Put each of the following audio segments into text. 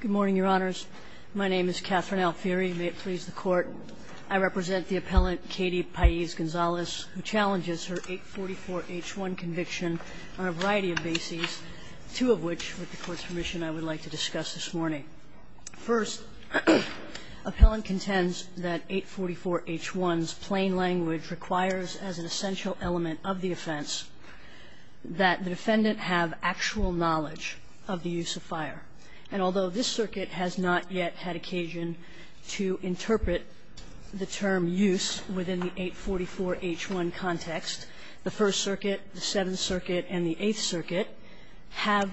Good morning, Your Honors. My name is Katherine Alfieri. May it please the Court, I represent the appellant Katie Pais Gonzalez, who challenges her 844-H1 conviction on a variety of bases, two of which, with the Court's permission, I would like to discuss this morning. First, appellant contends that 844-H1's plain language requires as an essential element of the offense that the defendant have actual knowledge of the use of fire. And although this circuit has not yet had occasion to interpret the term use within the 844-H1 context, the First Circuit, the Seventh Circuit, and the Eighth Circuit have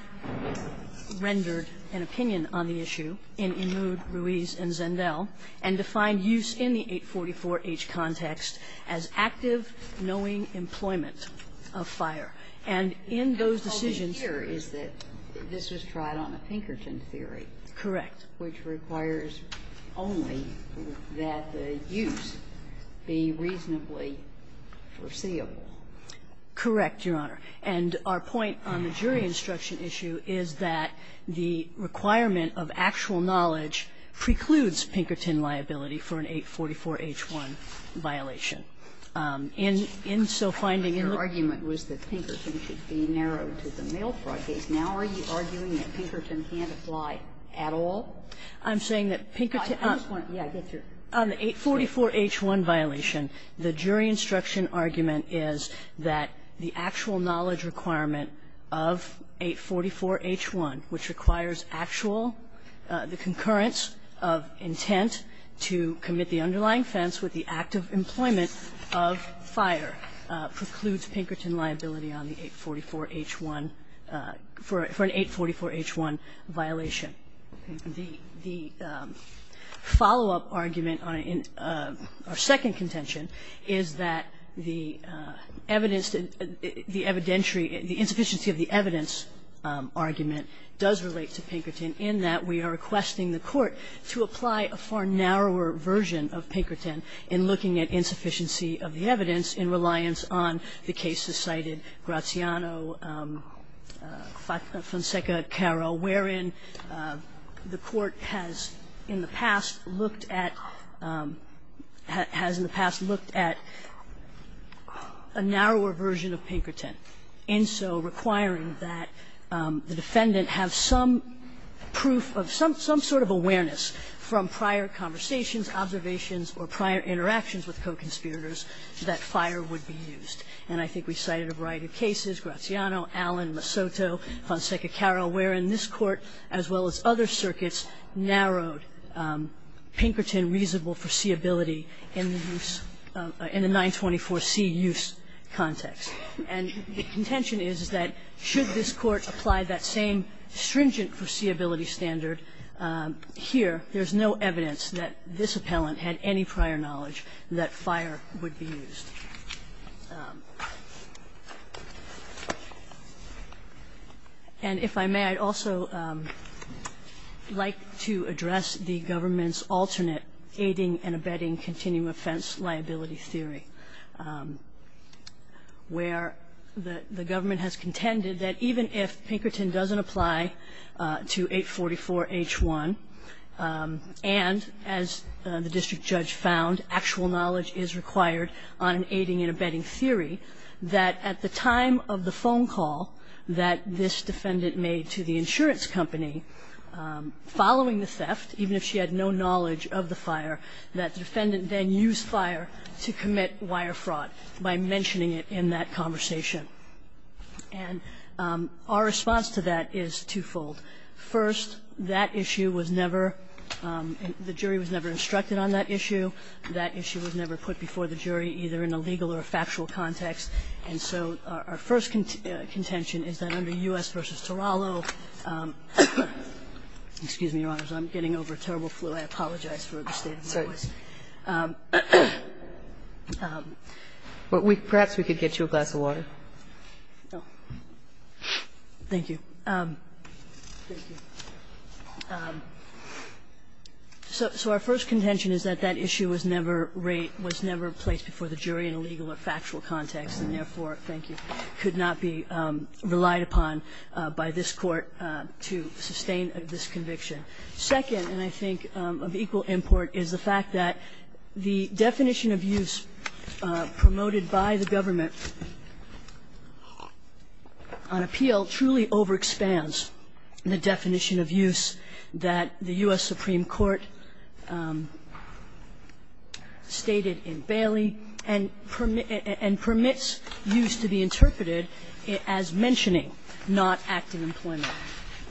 rendered an opinion on the issue in Ennud, Ruiz, and Zendel and defined use in the 844-H context as active, knowing employment of fire. And in those decisions ---- Kagan in Ennud, Ruiz, and Zendel and defined use in the 844-H context as active, knowing employment of fire. And in those decisions, the First Circuit, the Seventh Circuit, and the Eighth Circuit have rendered an opinion on the issue in Ennud, Ruiz, and Zendel and defined use in the 844-H context as active, knowing employment of fire. Now, are you arguing that Pinkerton can't apply at all? I'm saying that Pinkerton ---- I just want to ---- yeah, I get your ---- On the 844-H1 violation, the jury instruction argument is that the actual knowledge requirement of 844-H1, which requires actual, the concurrence of intent to commit the underlying offense with the active employment of fire, precludes Pinkerton liability on the 844-H1 ---- for an 844-H1 violation. The follow-up argument in our second contention is that the evidence to the evidentiary ---- the insufficiency of the evidence argument does relate to Pinkerton in that we are requesting the Court to apply a far narrower version of Pinkerton in looking at insufficiency of the evidence in reliance on the cases cited, Graziano, Fonseca, Caro, wherein the Court has in the past looked at ---- has in the past looked at a narrower version of Pinkerton, and so requiring that the defendant have some proof of some sort of awareness from prior conversations, observations, or prior interactions with co-conspirators that fire would be used. And I think we cited a variety of cases, Graziano, Allen, Masoto, Fonseca, Caro, wherein this Court, as well as other circuits, narrowed Pinkerton reasonable foreseeability in the use of ---- in the 924c use context. And the contention is that should this Court apply that same stringent foreseeability standard, here there's no evidence that this appellant had any prior knowledge that fire would be used. And if I may, I'd also like to address the government's alternate aiding and abetting continuum offense liability theory, where the government has contended that even if the defendant had no knowledge of the fire, that the defendant then used fire to commit wire fraud by mentioning it in that conversation. And our response to that is twofold. That issue was never ---- the jury was never instructed on that issue. That issue was never put before the jury, either in a legal or a factual context. And so our first contention is that under U.S. v. Torello ---- excuse me, Your Honors. I'm getting over a terrible flu. I apologize for the state of my voice. Kagan. But perhaps we could get you a glass of water. Thank you. So our first contention is that that issue was never raised ---- was never placed before the jury in a legal or factual context, and therefore, thank you, could not be relied upon by this Court to sustain this conviction. Second, and I think of equal import, is the fact that the definition of use promoted by the government on appeal truly overexpands the definition of use that the U.S. Supreme Court stated in Bailey and permits use to be interpreted as mentioning, not acting employment.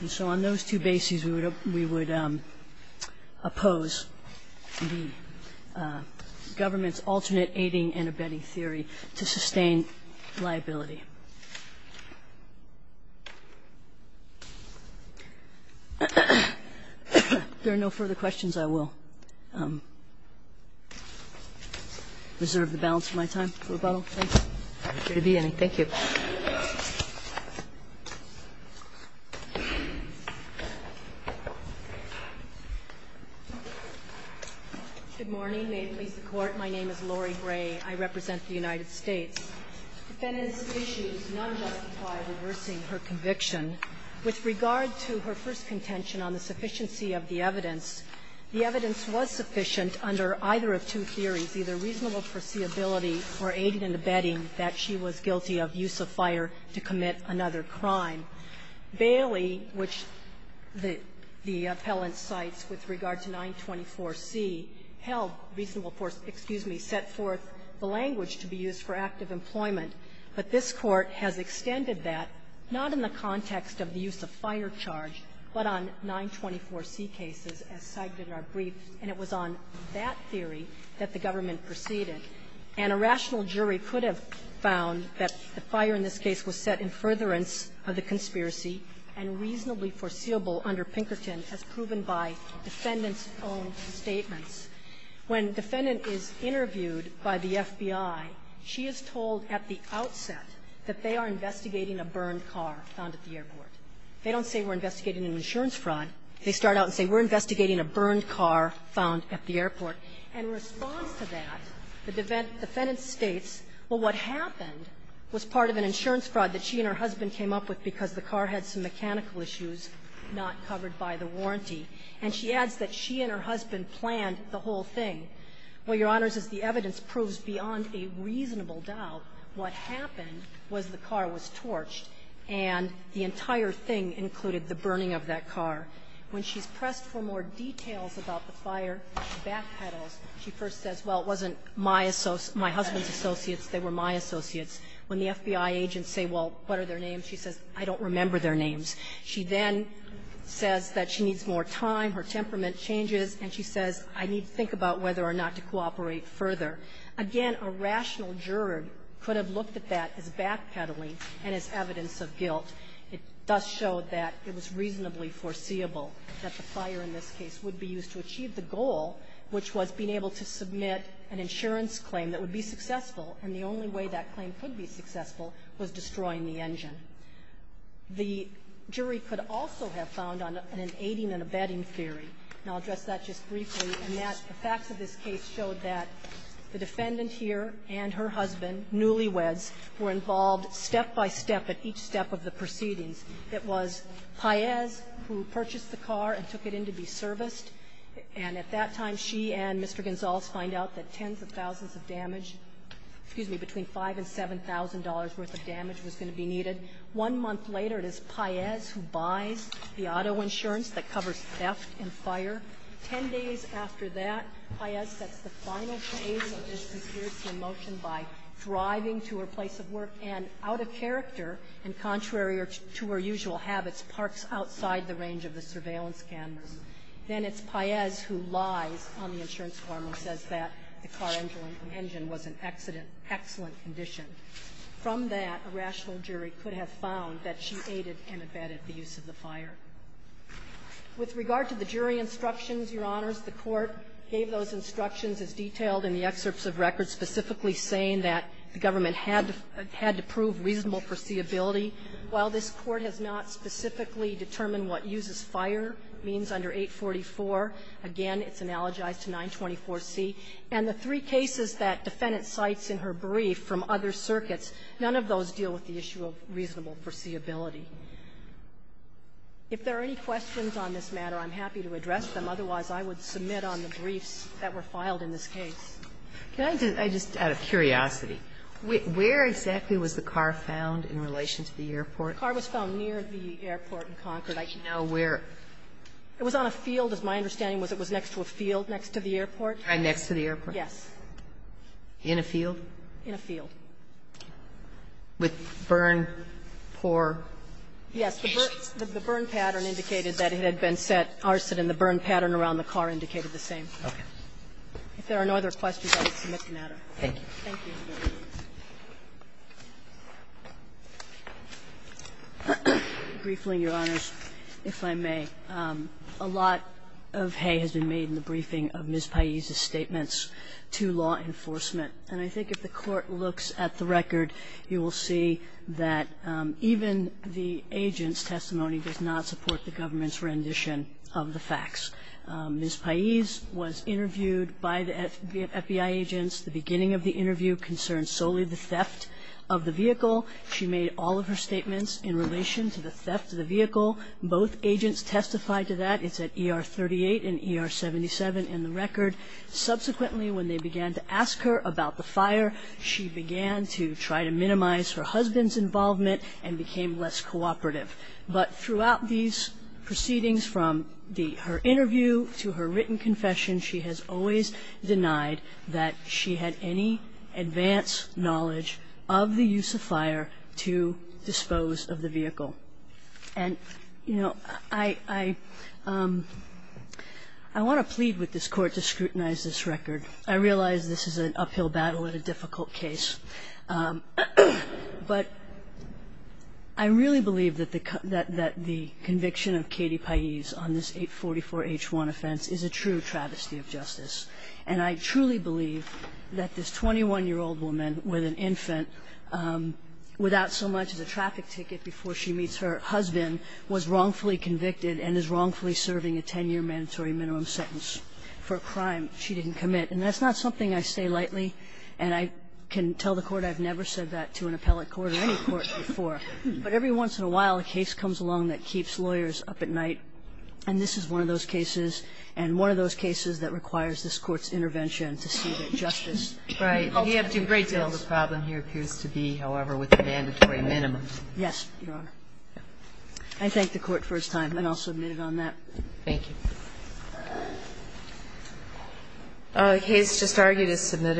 And so on those two bases, we would oppose the government's alternate aiding and abetting to sustain liability. If there are no further questions, I will reserve the balance of my time for rebuttal. Thank you. Thank you. Good morning. May it please the Court. My name is Lori Gray. I represent the United States. Defendant's issue is non-justified reversing her conviction. With regard to her first contention on the sufficiency of the evidence, the evidence was sufficient under either of two theories, either reasonable foreseeability or aiding and abetting that she was guilty of use of fire to commit another crime. Bailey, which the appellant cites with regard to 924C, held reasonable force ---- excuse me ---- set forth the language to be used for active employment. But this Court has extended that not in the context of the use of fire charge, but on 924C cases, as cited in our brief, and it was on that theory that the government proceeded. And a rational jury could have found that the fire in this case was set in furtherance of the conspiracy and reasonably foreseeable under Pinkerton as proven by defendant's own statements. When defendant is interviewed by the FBI, she is told at the outset that they are investigating a burned car found at the airport. They don't say we're investigating an insurance fraud. They start out and say, we're investigating a burned car found at the airport. In response to that, the defendant states, well, what happened was part of an insurance fraud that she and her husband came up with because the car had some mechanical issues not covered by the warranty. And she adds that she and her husband planned the whole thing. Well, Your Honors, as the evidence proves beyond a reasonable doubt, what happened was the car was torched and the entire thing included the burning of that car. When she's pressed for more details about the fire, she backpedals. She first says, well, it wasn't my husband's associates, they were my associates. When the FBI agents say, well, what are their names, she says, I don't remember their names. She then says that she needs more time, her temperament changes, and she says, I need to think about whether or not to cooperate further. Again, a rational juror could have looked at that as backpedaling and as evidence of guilt. It does show that it was reasonably foreseeable that the fire in this case would be used to achieve the goal, which was being able to submit an insurance claim that would be successful, and the only way that claim could be successful was destroying the engine. The jury could also have found on an aiding and abetting theory, and I'll address that just briefly, and that the facts of this case showed that the defendant here and her husband, newlyweds, were involved step by step at each step of the proceedings. It was Paez who purchased the car and took it in to be serviced, and at that time, she and Mr. Gonzales find out that tens of thousands of damage, excuse me, between $5,000 and $7,000 worth of damage was going to be needed. One month later, it is Paez who buys the auto insurance that covers theft and fire. Ten days after that, Paez sets the final phase of this conspiracy motion by driving to her place of work and, out of character and contrary to her usual habits, parks outside the range of the surveillance cameras. Then it's Paez who lies on the insurance form and says that the car engine was an accident, excellent condition. From that, a rational jury could have found that she aided and abetted the use of the fire. With regard to the jury instructions, Your Honors, the Court gave those instructions as detailed in the excerpts of records specifically saying that the government had to prove reasonable foreseeability. While this Court has not specifically determined what uses fire means under 844, again, it's analogized to 924C. And the three cases that defendant cites in her brief from other circuits, none of those deal with the issue of reasonable foreseeability. If there are any questions on this matter, I'm happy to address them. Otherwise, I would submit on the briefs that were filed in this case. Can I just, out of curiosity, where exactly was the car found in relation to the airport? The car was found near the airport in Concord. I don't know where. It was on a field, as my understanding was, it was next to a field next to the airport. Right next to the airport? Yes. In a field? In a field. With burn, pour? Yes. The burn pattern indicated that it had been set arson, and the burn pattern around the car indicated the same. Okay. If there are no other questions, I will submit the matter. Thank you. Thank you. Briefly, Your Honors, if I may, a lot of hay has been made in the briefing of Ms. Paiz's statements to law enforcement. And I think if the Court looks at the record, you will see that even the agent's testimony does not support the government's rendition of the facts. Ms. Paiz was interviewed by the FBI agents. The beginning of the interview concerned solely the theft of the vehicle. She made all of her statements in relation to the theft of the vehicle. Both agents testified to that. It's at ER 38 and ER 77 in the record. Subsequently, when they began to ask her about the fire, she began to try to minimize her husband's involvement and became less cooperative. But throughout these proceedings, from her interview to her written confession, she has always denied that she had any advanced knowledge of the use of fire to dispose of the vehicle. And, you know, I want to plead with this Court to scrutinize this record. I realize this is an uphill battle and a difficult case. But I really believe that the conviction of Katie Paiz on this 844-H1 offense is a true travesty of justice. And I truly believe that this 21-year-old woman with an infant without so much as a traffic ticket before she meets her husband was wrongfully convicted and is wrongfully serving a 10-year mandatory minimum sentence for a crime she didn't commit. And that's not something I say lightly, and I can tell the Court I've never said that to an appellate court or any court before. But every once in a while, a case comes along that keeps lawyers up at night, and this is one of those cases, and one of those cases that requires this Court's intervention to see that justice ultimately fails. Right. You have to break down what the problem here appears to be, however, with the mandatory minimum. Yes, Your Honor. I thank the Court for its time, and I'll submit it on that. Thank you. The case just argued is submitted.